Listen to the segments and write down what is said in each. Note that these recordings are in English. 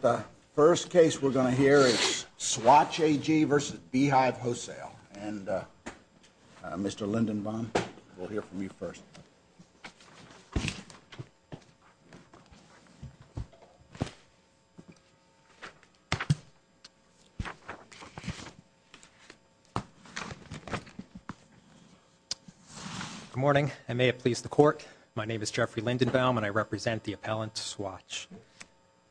The first case we're going to hear is Swatch AG v. Beehive Wholesale, and Mr. Lindenbaum, we'll hear from you first. Good morning, and may it please the Court, my name is Jeffrey Lindenbaum and I represent the appellant, Swatch.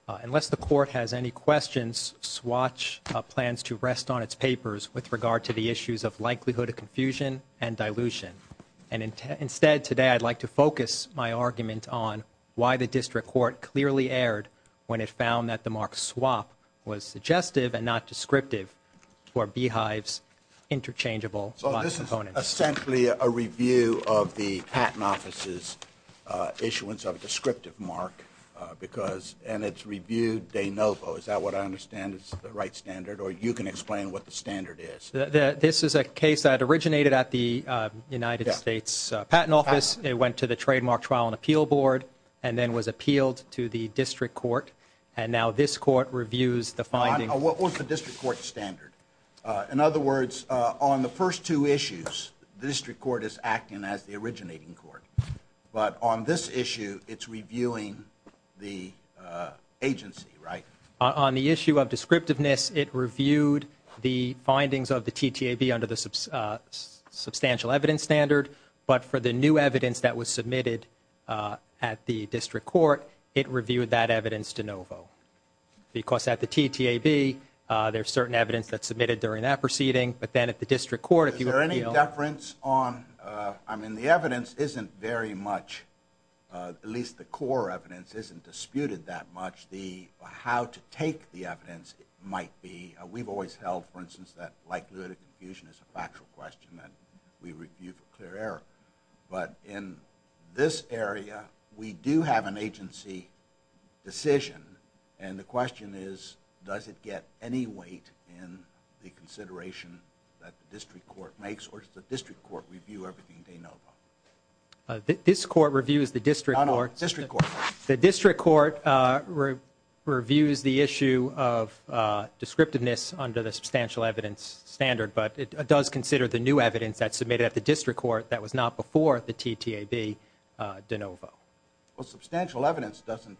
Unless the Court has any questions, Swatch plans to rest on its papers with regard to the issues of likelihood of confusion and dilution. And instead, today, I'd like to focus my argument on why the District Court clearly erred when it found that the mark swap was suggestive and not descriptive for Beehive's interchangeable lot components. Essentially, a review of the Patent Office's issuance of a descriptive mark, and it's reviewed de novo. Is that what I understand is the right standard, or you can explain what the standard is? This is a case that originated at the United States Patent Office, it went to the Trademark Trial and Appeal Board, and then was appealed to the District Court, and now this Court reviews the finding. What was the District Court standard? In other words, on the first two issues, the District Court is acting as the originating court, but on this issue, it's reviewing the agency, right? On the issue of descriptiveness, it reviewed the findings of the TTAB under the substantial evidence standard, but for the new evidence that was submitted at the District Court, it reviewed that evidence de novo. Because at the TTAB, there's certain evidence that's submitted during that proceeding, but then at the District Court, if you appeal… Is there any deference on, I mean, the evidence isn't very much, at least the core evidence isn't disputed that much, the how to take the evidence might be, we've always held, for instance, that likelihood of confusion is a factual question that we review for clear error. But in this area, we do have an agency decision, and the question is, does it get any weight in the consideration that the District Court makes, or does the District Court review everything de novo? This Court reviews the District Court. No, no, District Court. The District Court reviews the issue of descriptiveness under the substantial evidence standard, but it does consider the new evidence that's submitted at the District Court that was not before the TTAB de novo. Well, substantial evidence doesn't…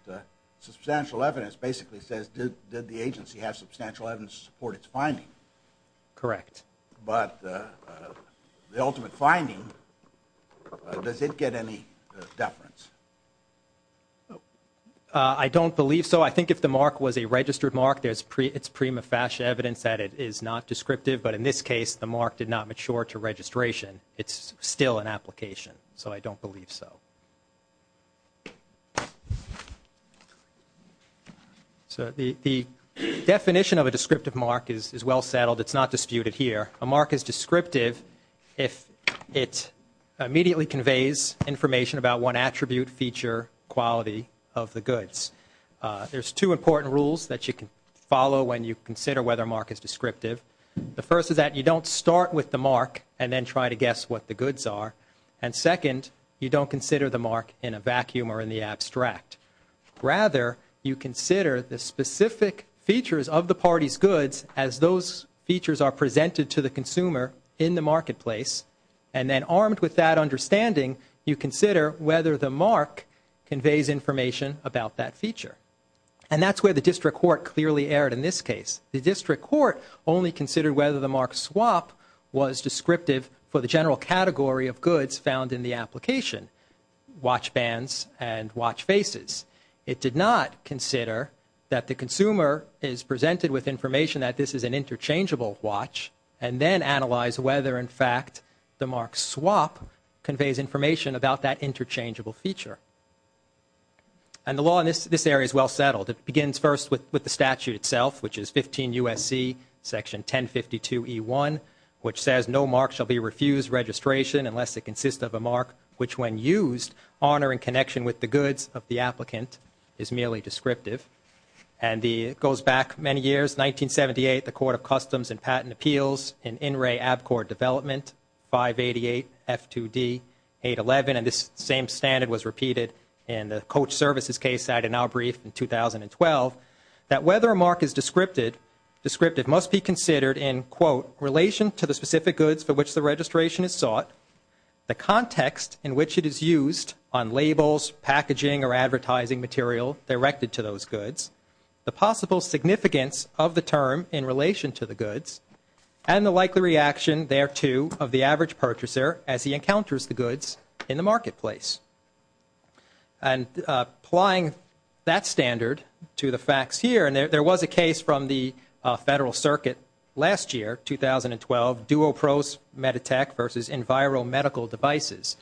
Substantial evidence basically says, did the agency have substantial evidence to support its finding? Correct. But the ultimate finding, does it get any deference? I don't believe so. I think if the mark was a registered mark, it's prima facie evidence that it is not descriptive, but in this case, the mark did not mature to registration. It's still an application, so I don't believe so. So the definition of a descriptive mark is well settled. It's not disputed here. A mark is descriptive if it immediately conveys information about one attribute, feature, quality of the goods. There's two important rules that you can follow when you consider whether a mark is descriptive. The first is that you don't start with the mark and then try to guess what the goods are, and second, you don't consider the mark in a vacuum or in the abstract. Rather, you consider the specific features of the party's goods as those features are presented to the consumer in the marketplace, and then armed with that understanding, you consider whether the mark conveys information about that feature. And that's where the district court clearly erred in this case. The district court only considered whether the mark swap was descriptive for the general category of goods found in the application, watch bands and watch faces. It did not consider that the consumer is presented with information that this is an interchangeable watch and then analyze whether, in fact, the mark swap conveys information about that interchangeable feature. And the law in this area is well settled. It begins first with the statute itself, which is 15 U.S.C. Section 1052E1, which says, No mark shall be refused registration unless it consists of a mark which, when used, honoring connection with the goods of the applicant is merely descriptive. And it goes back many years, 1978, the Court of Customs and Patent Appeals in In Re Abcord Development, 588F2D811. And this same standard was repeated in the coach services case that I did not brief in 2012, that whether a mark is descriptive must be considered in, quote, relation to the specific goods for which the registration is sought, the context in which it is used on labels, packaging or advertising material directed to those goods, the possible significance of the term in relation to the goods, and the likely reaction, thereto, of the average purchaser as he encounters the goods in the marketplace. And applying that standard to the facts here, and there was a case from the Federal Circuit last year, 2012, Duopro's Meditech versus Enviro Medical Devices.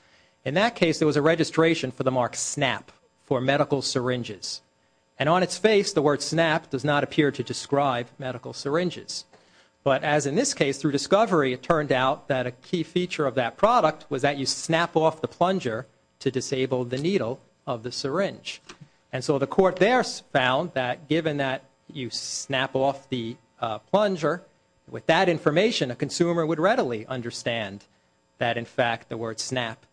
In that case, there was a registration for the mark snap for medical syringes. And on its face, the word snap does not appear to describe medical syringes. But as in this case, through discovery, it turned out that a key feature of that product was that you snap off the plunger to disable the needle of the syringe. And so the court there found that given that you snap off the plunger, with that information, a consumer would readily understand that, in fact, the word snap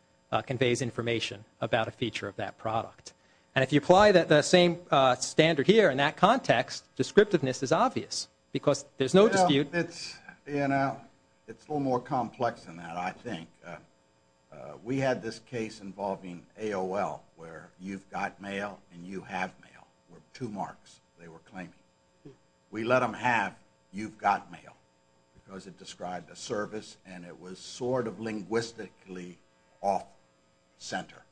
conveys information about a feature of that product. And if you apply the same standard here in that context, descriptiveness is obvious because there's no dispute. You know, it's a little more complex than that, I think. We had this case involving AOL where you've got mail and you have mail, with two marks they were claiming. We let them have you've got mail because it described a service and it was sort of linguistically off center.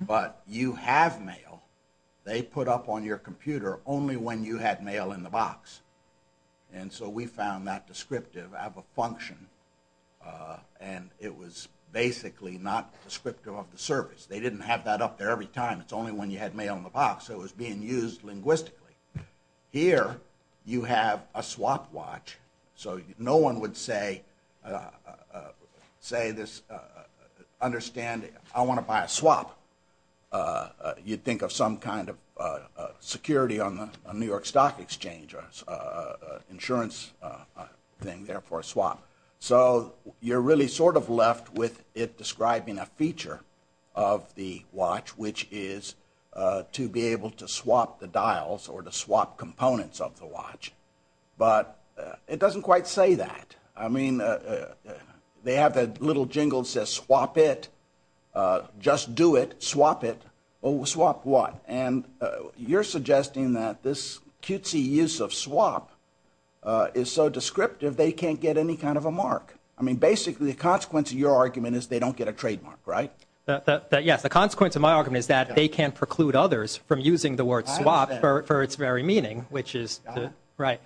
But you have mail, they put up on your computer only when you had mail in the box. And so we found that descriptive of a function and it was basically not descriptive of the service. They didn't have that up there every time. It's only when you had mail in the box, so it was being used linguistically. Here you have a swap watch. So no one would say this, understand, I want to buy a swap. You'd think of some kind of security on the New York Stock Exchange or insurance thing there for a swap. So you're really sort of left with it describing a feature of the watch, which is to be able to swap the dials or to swap components of the watch. But it doesn't quite say that. I mean, they have that little jingle that says swap it, just do it, swap it. And you're suggesting that this cutesy use of swap is so descriptive they can't get any kind of a mark. I mean, basically the consequence of your argument is they don't get a trademark, right? Yes, the consequence of my argument is that they can preclude others from using the word swap for its very meaning, which is right.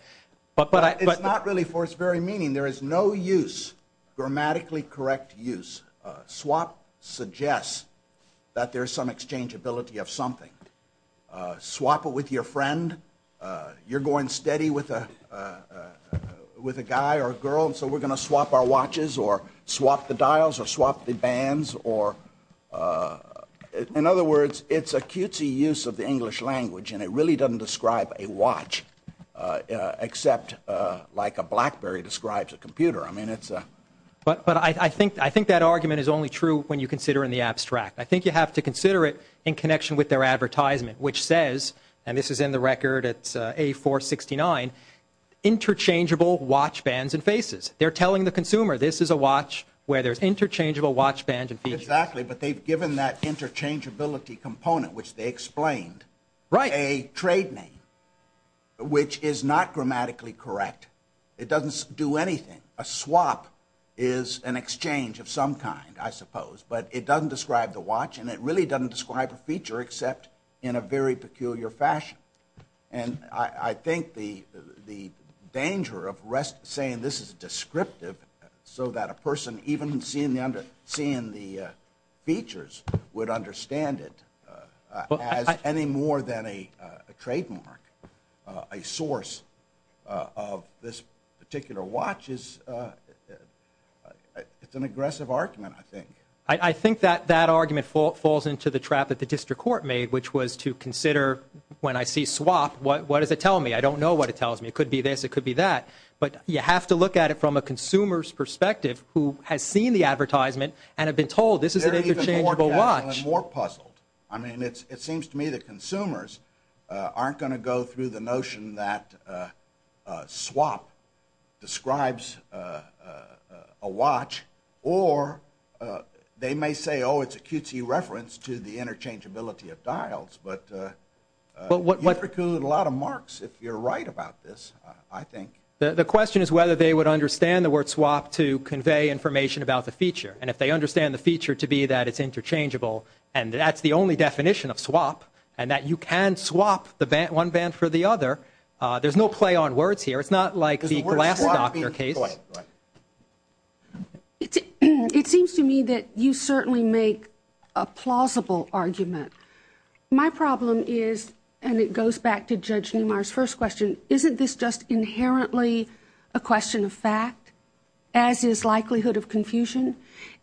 But it's not really for its very meaning. There is no use, grammatically correct use. Swap suggests that there is some exchangeability of something. Swap it with your friend. You're going steady with a guy or a girl, so we're going to swap our watches or swap the dials or swap the bands. In other words, it's a cutesy use of the English language, and it really doesn't describe a watch, except like a BlackBerry describes a computer. But I think that argument is only true when you consider in the abstract. I think you have to consider it in connection with their advertisement, which says, and this is in the record, it's A469, interchangeable watch bands and faces. They're telling the consumer this is a watch where there's interchangeable watch bands and features. Exactly, but they've given that interchangeability component, which they explained, a trade name, which is not grammatically correct. It doesn't do anything. A swap is an exchange of some kind, I suppose, but it doesn't describe the watch, and it really doesn't describe a feature, except in a very peculiar fashion. I think the danger of saying this is descriptive so that a person, even seeing the features, would understand it as any more than a trademark, a source of this particular watch. It's an aggressive argument, I think. I think that that argument falls into the trap that the district court made, which was to consider, when I see swap, what does it tell me? I don't know what it tells me. It could be this. It could be that. But you have to look at it from a consumer's perspective who has seen the advertisement and have been told this is an interchangeable watch. I'm more puzzled. I mean, it seems to me that consumers aren't going to go through the notion that swap describes a watch, or they may say, oh, it's a cutesy reference to the interchangeability of dials. But you preclude a lot of marks if you're right about this, I think. The question is whether they would understand the word swap to convey information about the feature, and if they understand the feature to be that it's interchangeable and that's the only definition of swap and that you can swap one band for the other, there's no play on words here. It's not like the glass doctor case. It seems to me that you certainly make a plausible argument. My problem is, and it goes back to Judge Niemeyer's first question, isn't this just inherently a question of fact, as is likelihood of confusion?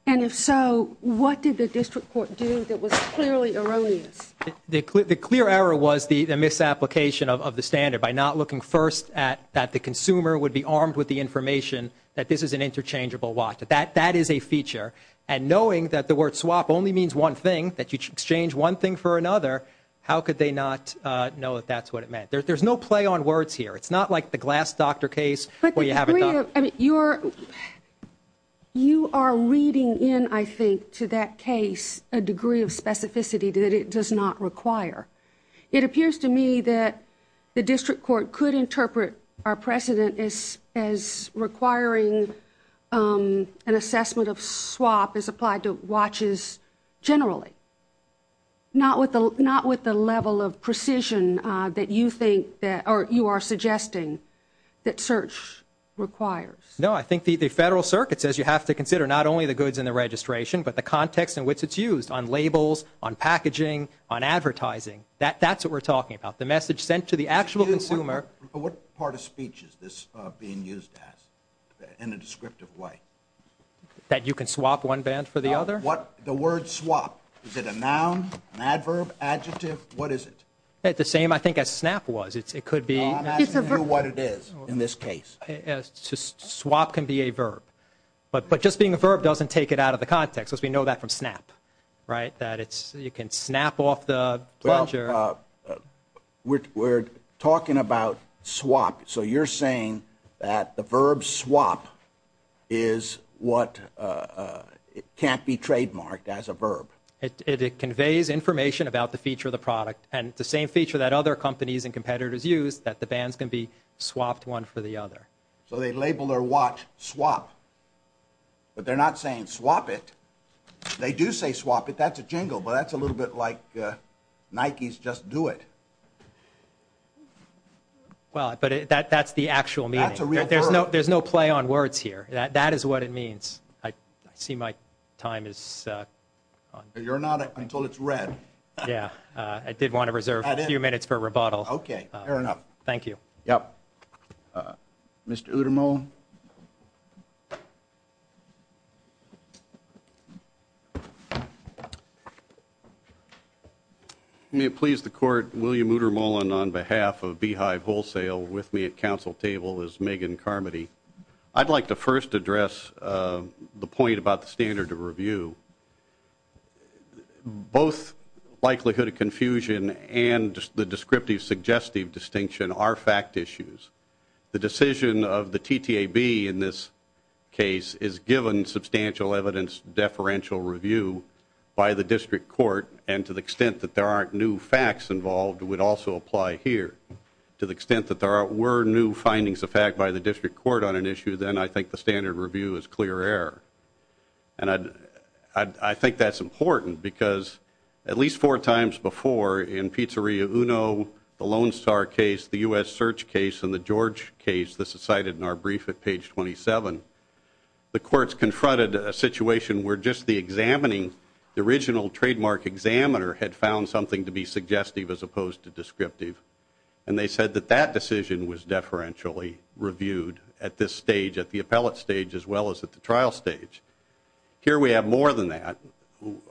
And if so, what did the district court do that was clearly erroneous? The clear error was the misapplication of the standard by not looking first at that the consumer would be armed with the information that this is an interchangeable watch, that that is a feature. And knowing that the word swap only means one thing, that you exchange one thing for another, how could they not know that that's what it meant? There's no play on words here. It's not like the glass doctor case where you have it done. You are reading in, I think, to that case a degree of specificity that it does not require. It appears to me that the district court could interpret our precedent as requiring an assessment of swap as applied to watches generally, not with the level of precision that you are suggesting that search requires. No, I think the Federal Circuit says you have to consider not only the goods in the registration, but the context in which it's used on labels, on packaging, on advertising. That's what we're talking about, the message sent to the actual consumer. What part of speech is this being used as in a descriptive way? That you can swap one band for the other? The word swap, is it a noun, an adverb, adjective? What is it? The same, I think, as snap was. It could be. Swap can be a verb. But just being a verb doesn't take it out of the context, because we know that from snap, right? That you can snap off the plunger. Well, we're talking about swap. So you're saying that the verb swap is what can't be trademarked as a verb? It conveys information about the feature of the product, and it's the same feature that other companies and competitors use, that the bands can be swapped one for the other. So they label their watch swap. But they're not saying swap it. They do say swap it. That's a jingle, but that's a little bit like Nike's just do it. Well, but that's the actual meaning. That's a real word. There's no play on words here. That is what it means. I see my time is up. You're not until it's read. Yeah, I did want to reserve a few minutes for rebuttal. Okay, fair enough. Thank you. Yep. Mr. Uttermole. May it please the court, William Uttermole on behalf of Beehive Wholesale with me at council table is Megan Carmody. I'd like to first address the point about the standard of review. Both likelihood of confusion and the descriptive suggestive distinction are fact issues. The decision of the TTAB in this case is given substantial evidence deferential review by the district court, and to the extent that there aren't new facts involved would also apply here. To the extent that there were new findings of fact by the district court on an issue, then I think the standard review is clear error. And I think that's important because at least four times before in Pizzeria Uno, the Lone Star case, the U.S. Search case, and the George case that's cited in our brief at page 27, the courts confronted a situation where just the examining, the original trademark examiner had found something to be suggestive as opposed to descriptive, and they said that that decision was deferentially reviewed at this stage, at the appellate stage as well as at the trial stage. Here we have more than that.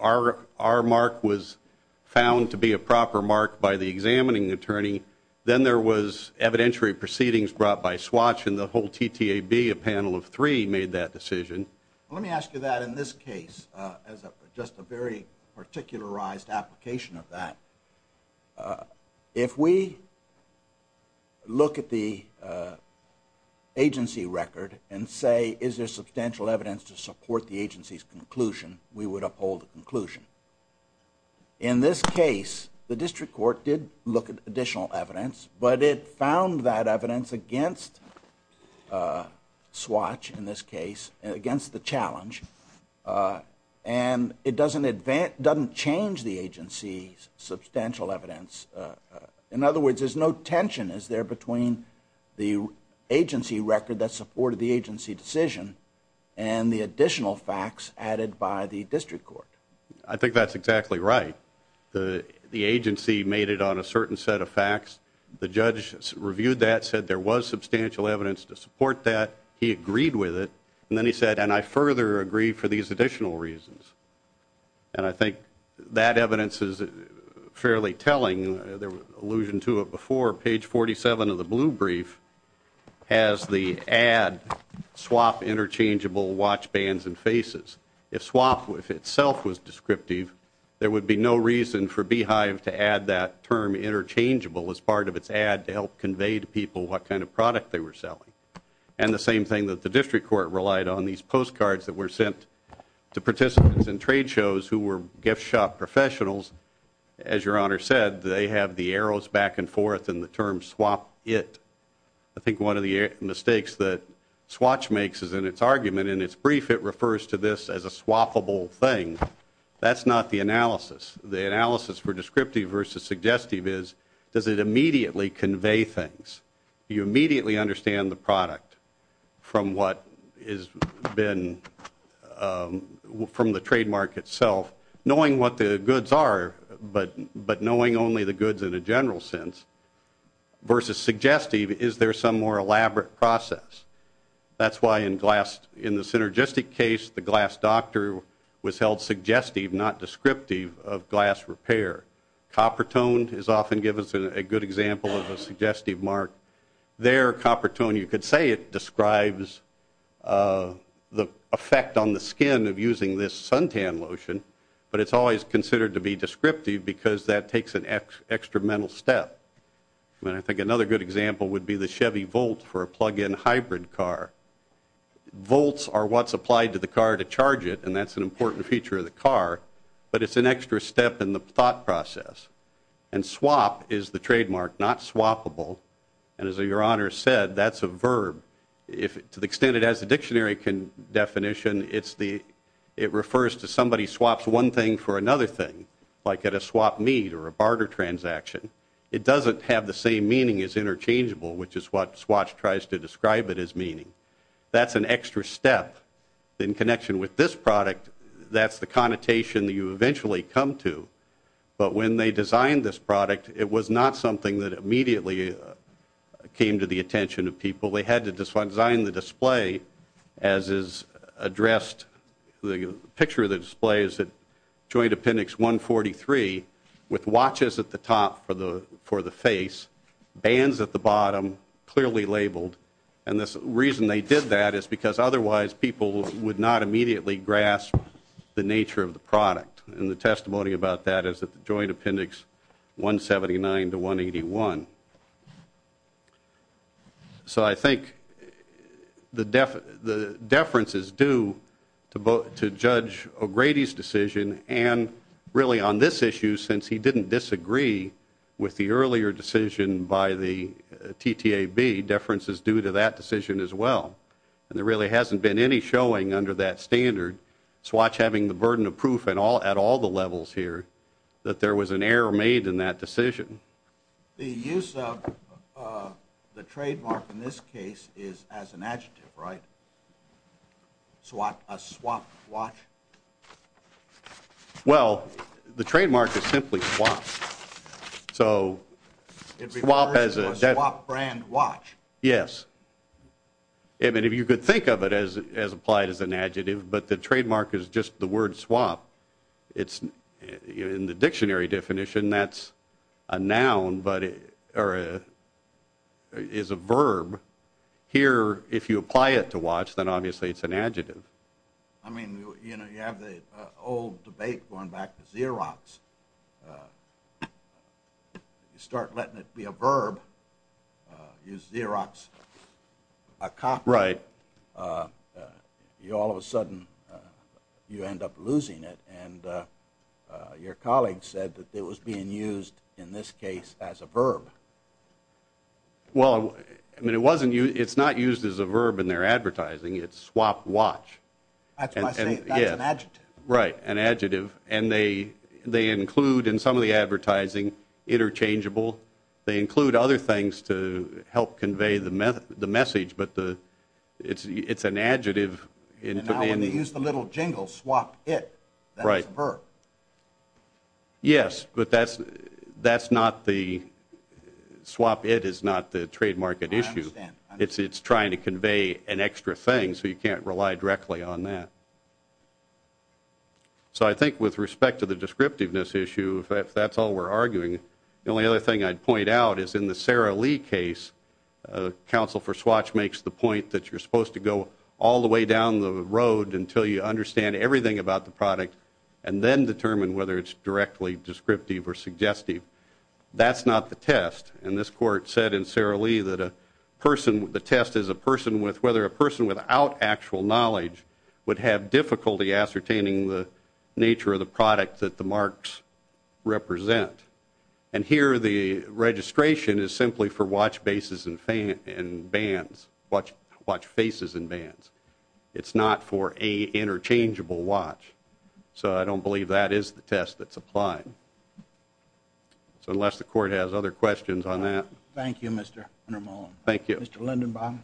Our mark was found to be a proper mark by the examining attorney. Then there was evidentiary proceedings brought by Swatch, and the whole TTAB, a panel of three, made that decision. Let me ask you that in this case as just a very particularized application of that. If we look at the agency record and say is there substantial evidence to support the agency's conclusion, we would uphold the conclusion. In this case, the district court did look at additional evidence, but it found that evidence against Swatch in this case, against the challenge, and it doesn't change the agency's substantial evidence. In other words, there's no tension, is there, between the agency record that supported the agency decision and the additional facts added by the district court. I think that's exactly right. The agency made it on a certain set of facts. The judge reviewed that, said there was substantial evidence to support that. He agreed with it. And then he said, and I further agree for these additional reasons. And I think that evidence is fairly telling. There was allusion to it before. Page 47 of the blue brief has the ad, swap interchangeable watch bands and faces. If swap itself was descriptive, there would be no reason for Beehive to add that term interchangeable as part of its ad to help convey to people what kind of product they were selling. And the same thing that the district court relied on, these postcards that were sent to participants in trade shows who were gift shop professionals, as Your Honor said, they have the arrows back and forth and the term swap it. I think one of the mistakes that Swatch makes is in its argument, in its brief, it refers to this as a swappable thing. That's not the analysis. The analysis for descriptive versus suggestive is, does it immediately convey things? Do you immediately understand the product from what has been, from the trademark itself, knowing what the goods are but knowing only the goods in a general sense, versus suggestive, is there some more elaborate process? That's why in the synergistic case, the glass doctor was held suggestive, not descriptive, of glass repair. Coppertone is often given as a good example of a suggestive mark. There, Coppertone, you could say it describes the effect on the skin of using this suntan lotion, but it's always considered to be descriptive because that takes an extra mental step. I think another good example would be the Chevy Volt for a plug-in hybrid car. Volts are what's applied to the car to charge it, and that's an important feature of the car, but it's an extra step in the thought process. And swap is the trademark, not swappable, and as your Honor said, that's a verb. To the extent it has a dictionary definition, it refers to somebody swaps one thing for another thing, like at a swap meet or a barter transaction. It doesn't have the same meaning as interchangeable, which is what Swatch tries to describe it as meaning. That's an extra step. In connection with this product, that's the connotation that you eventually come to, but when they designed this product, it was not something that immediately came to the attention of people. They had to design the display as is addressed. The picture of the display is that joint appendix 143 with watches at the top for the face, bands at the bottom, clearly labeled. And the reason they did that is because otherwise people would not immediately grasp the nature of the product, and the testimony about that is that the joint appendix 179 to 181. So I think the deference is due to Judge O'Grady's decision, and really on this issue, since he didn't disagree with the earlier decision by the TTAB, deference is due to that decision as well. And there really hasn't been any showing under that standard, Swatch having the burden of proof at all the levels here, that there was an error made in that decision. The use of the trademark in this case is as an adjective, right? A swap watch? Well, the trademark is simply swap. So swap as a... It refers to a swap brand watch. Yes. I mean, if you could think of it as applied as an adjective, but the trademark is just the word swap. In the dictionary definition, that's a noun, but it is a verb. Here, if you apply it to watch, then obviously it's an adjective. I mean, you have the old debate going back to Xerox. You start letting it be a verb, use Xerox, a copyright, all of a sudden you end up losing it, and your colleague said that it was being used in this case as a verb. Well, I mean, it's not used as a verb in their advertising. It's swap watch. That's why I say that's an adjective. Right, an adjective. And they include, in some of the advertising, interchangeable. They include other things to help convey the message, but it's an adjective. And now when they use the little jingle, swap it, that's a verb. Yes, but that's not the swap it is not the trademark issue. I understand. It's trying to convey an extra thing, so you can't rely directly on that. So I think with respect to the descriptiveness issue, if that's all we're arguing, the only other thing I'd point out is in the Sarah Lee case, counsel for swatch makes the point that you're supposed to go all the way down the road until you understand everything about the product and then determine whether it's directly descriptive or suggestive. That's not the test. And this court said in Sarah Lee that the test is whether a person without actual knowledge would have difficulty ascertaining the nature of the product that the marks represent. And here the registration is simply for watch bases and bands, watch faces and bands. It's not for a interchangeable watch. So I don't believe that is the test that's applied. So unless the court has other questions on that. Thank you, Mr. Ramone. Thank you. Mr. Lindenbaum.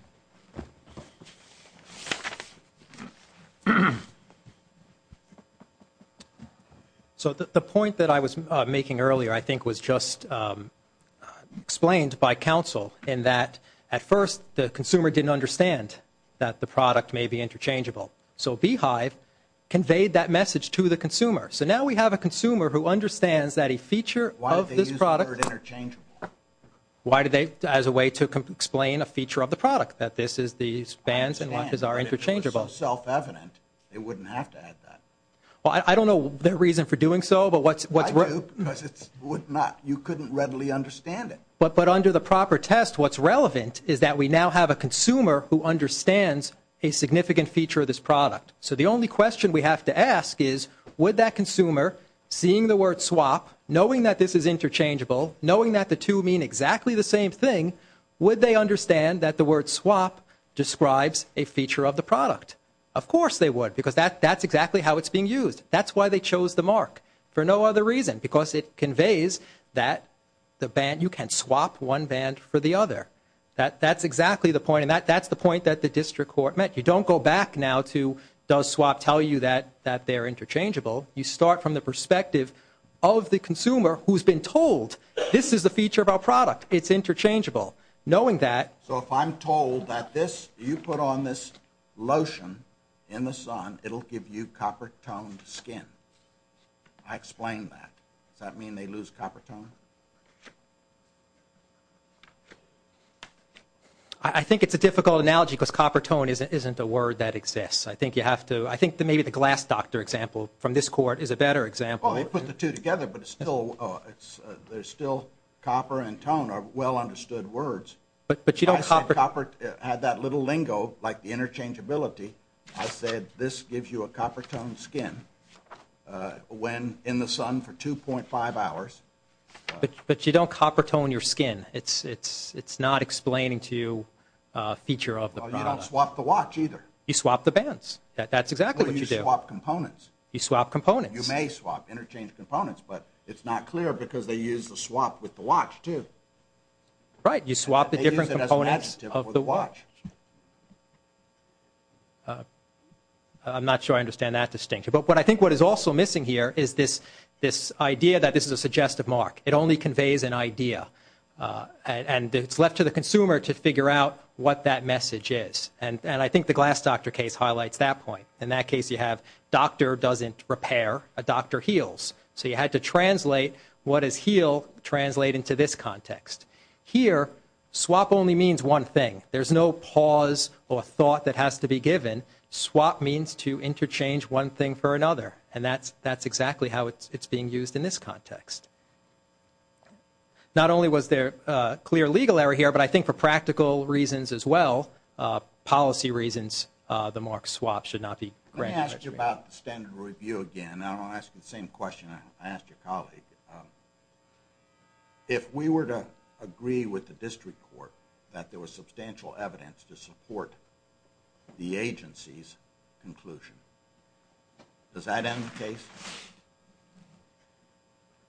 So the point that I was making earlier I think was just explained by counsel in that at first the consumer didn't understand that the product may be interchangeable. So Beehive conveyed that message to the consumer. So now we have a consumer who understands that a feature of this product. Why did they use the word interchangeable? Why did they, as a way to explain a feature of the product, that this is these bands and watches are interchangeable. If it was self-evident, they wouldn't have to add that. Well, I don't know their reason for doing so, but what's worth. I do, because you couldn't readily understand it. But under the proper test, what's relevant is that we now have a consumer who understands a significant feature of this product. So the only question we have to ask is would that consumer, seeing the word swap, knowing that this is interchangeable, knowing that the two mean exactly the same thing, would they understand that the word swap describes a feature of the product? Of course they would, because that's exactly how it's being used. That's why they chose the mark, for no other reason, because it conveys that you can swap one band for the other. That's exactly the point, and that's the point that the district court met. You don't go back now to does swap tell you that they're interchangeable. You start from the perspective of the consumer who's been told, this is the feature of our product, it's interchangeable, knowing that. So if I'm told that you put on this lotion in the sun, it'll give you copper-toned skin. I explained that. Does that mean they lose copper tone? I think it's a difficult analogy, because copper tone isn't a word that exists. I think you have to, I think maybe the glass doctor example from this court is a better example. Well, they put the two together, but it's still, there's still copper and tone are well-understood words. But you don't... Copper had that little lingo, like the interchangeability. I said this gives you a copper-toned skin when in the sun for 2.5 hours. But you don't copper tone your skin. It's not explaining to you a feature of the product. You don't swap the watch either. You swap the bands. That's exactly what you do. No, you swap components. You swap components. You may swap interchangeable components, but it's not clear because they use the swap with the watch too. Right, you swap the different components of the watch. I'm not sure I understand that distinction. But I think what is also missing here is this idea that this is a suggestive mark. It only conveys an idea. And it's left to the consumer to figure out what that message is. And I think the glass doctor case highlights that point. In that case, you have doctor doesn't repair, a doctor heals. So you had to translate what is healed, translate into this context. Here, swap only means one thing. There's no pause or thought that has to be given. Swap means to interchange one thing for another. And that's exactly how it's being used in this context. Not only was there a clear legal error here, but I think for practical reasons as well, policy reasons, the mark swap should not be granted. Let me ask you about the standard review again. And I'll ask the same question I asked your colleague. If we were to agree with the district court that there was substantial evidence to support the agency's conclusion, does that end the case?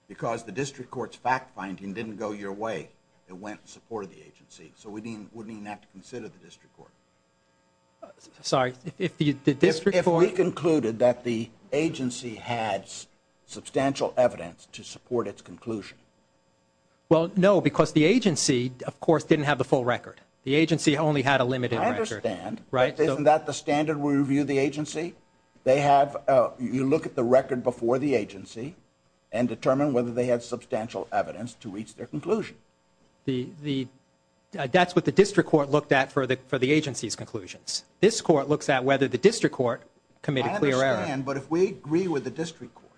Because the district court's fact-finding didn't go your way. It went in support of the agency. So we wouldn't even have to consider the district court. Sorry, if the district court... had substantial evidence to support its conclusion. Well, no, because the agency, of course, didn't have the full record. The agency only had a limited record. I understand. Isn't that the standard review of the agency? You look at the record before the agency and determine whether they had substantial evidence to reach their conclusion. That's what the district court looked at for the agency's conclusions. This court looks at whether the district court committed a clear error. I understand, but if we agree with the district court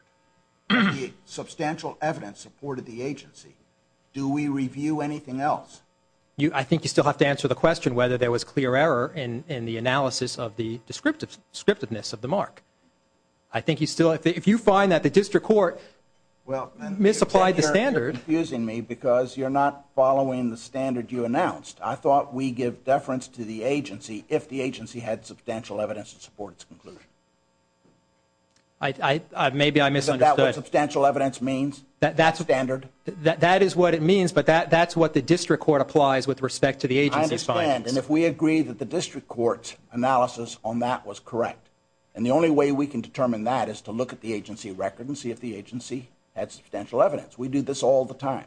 that the substantial evidence supported the agency, do we review anything else? I think you still have to answer the question whether there was clear error in the analysis of the descriptiveness of the mark. I think you still have to. If you find that the district court misapplied the standard... You're confusing me because you're not following the standard you announced. I thought we give deference to the agency if the agency had substantial evidence to support its conclusion. Maybe I misunderstood. Is that what substantial evidence means, standard? That is what it means, but that's what the district court applies with respect to the agency's findings. I understand, and if we agree that the district court's analysis on that was correct, and the only way we can determine that is to look at the agency record and see if the agency had substantial evidence. We do this all the time.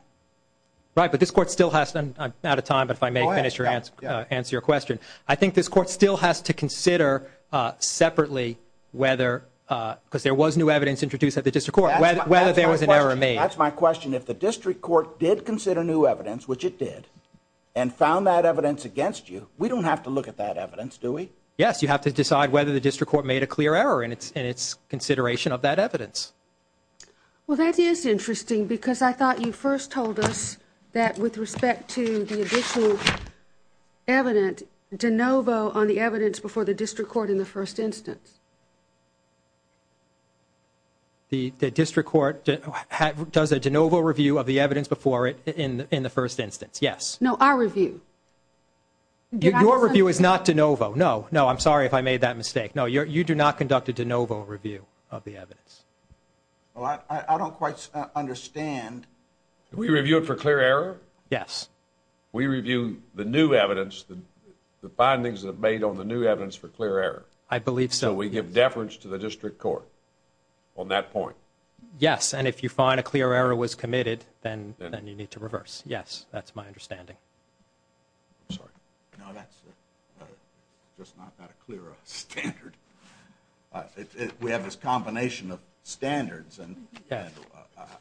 Right, but this court still has to. I'm out of time, but if I may finish and answer your question. I think this court still has to consider separately whether, because there was new evidence introduced at the district court, whether there was an error made. That's my question. If the district court did consider new evidence, which it did, and found that evidence against you, we don't have to look at that evidence, do we? Yes, you have to decide whether the district court made a clear error in its consideration of that evidence. Well, that is interesting because I thought you first told us that with respect to the additional evidence, de novo on the evidence before the district court in the first instance. The district court does a de novo review of the evidence before it in the first instance, yes. No, our review. Your review is not de novo. No, no, I'm sorry if I made that mistake. No, you do not conduct a de novo review of the evidence. I don't quite understand. We review it for clear error? Yes. We review the new evidence, the findings that are made on the new evidence for clear error? I believe so. So we give deference to the district court on that point? Yes, and if you find a clear error was committed, then you need to reverse. Yes, that's my understanding. I'm sorry. No, that's just not a clear standard. We have this combination of standards. And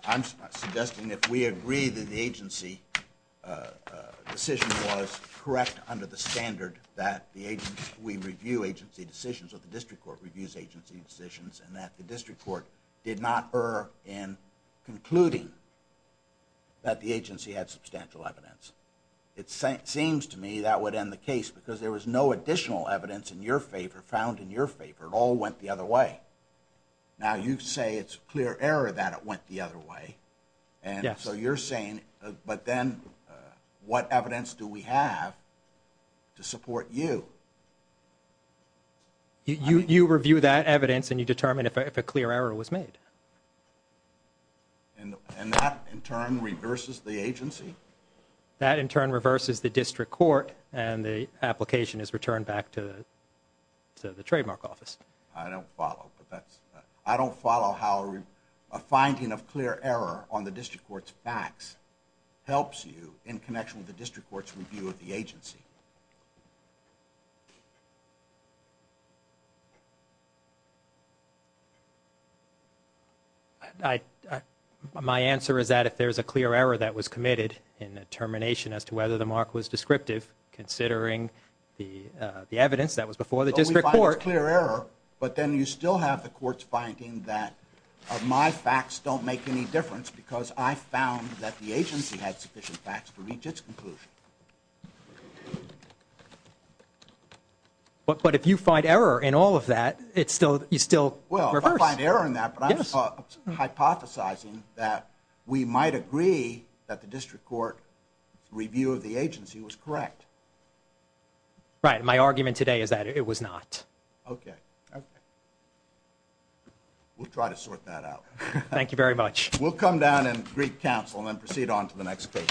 I'm suggesting if we agree that the agency decision was correct under the standard that we review agency decisions or the district court reviews agency decisions and that the district court did not err in concluding that the agency had substantial evidence. It seems to me that would end the case because there was no additional evidence in your favor, found in your favor. It all went the other way. Now, you say it's clear error that it went the other way. So you're saying, but then what evidence do we have to support you? You review that evidence and you determine if a clear error was made. And that, in turn, reverses the agency? That, in turn, reverses the district court, and the application is returned back to the trademark office. I don't follow. I don't follow how a finding of clear error on the district court's facts helps you in connection with the district court's review of the agency. My answer is that if there's a clear error that was committed in determination as to whether the mark was descriptive, considering the evidence that was before the district court. So we find it's clear error, but then you still have the courts finding that my facts don't make any difference because I found that the agency had sufficient facts to reach its conclusion. But if you find error in all of that, you still reverse. Well, I find error in that, but I'm hypothesizing that we might agree that the district court review of the agency was correct. Right. My argument today is that it was not. Okay. We'll try to sort that out. Thank you very much. We'll come down and greet counsel and then proceed on to the next case.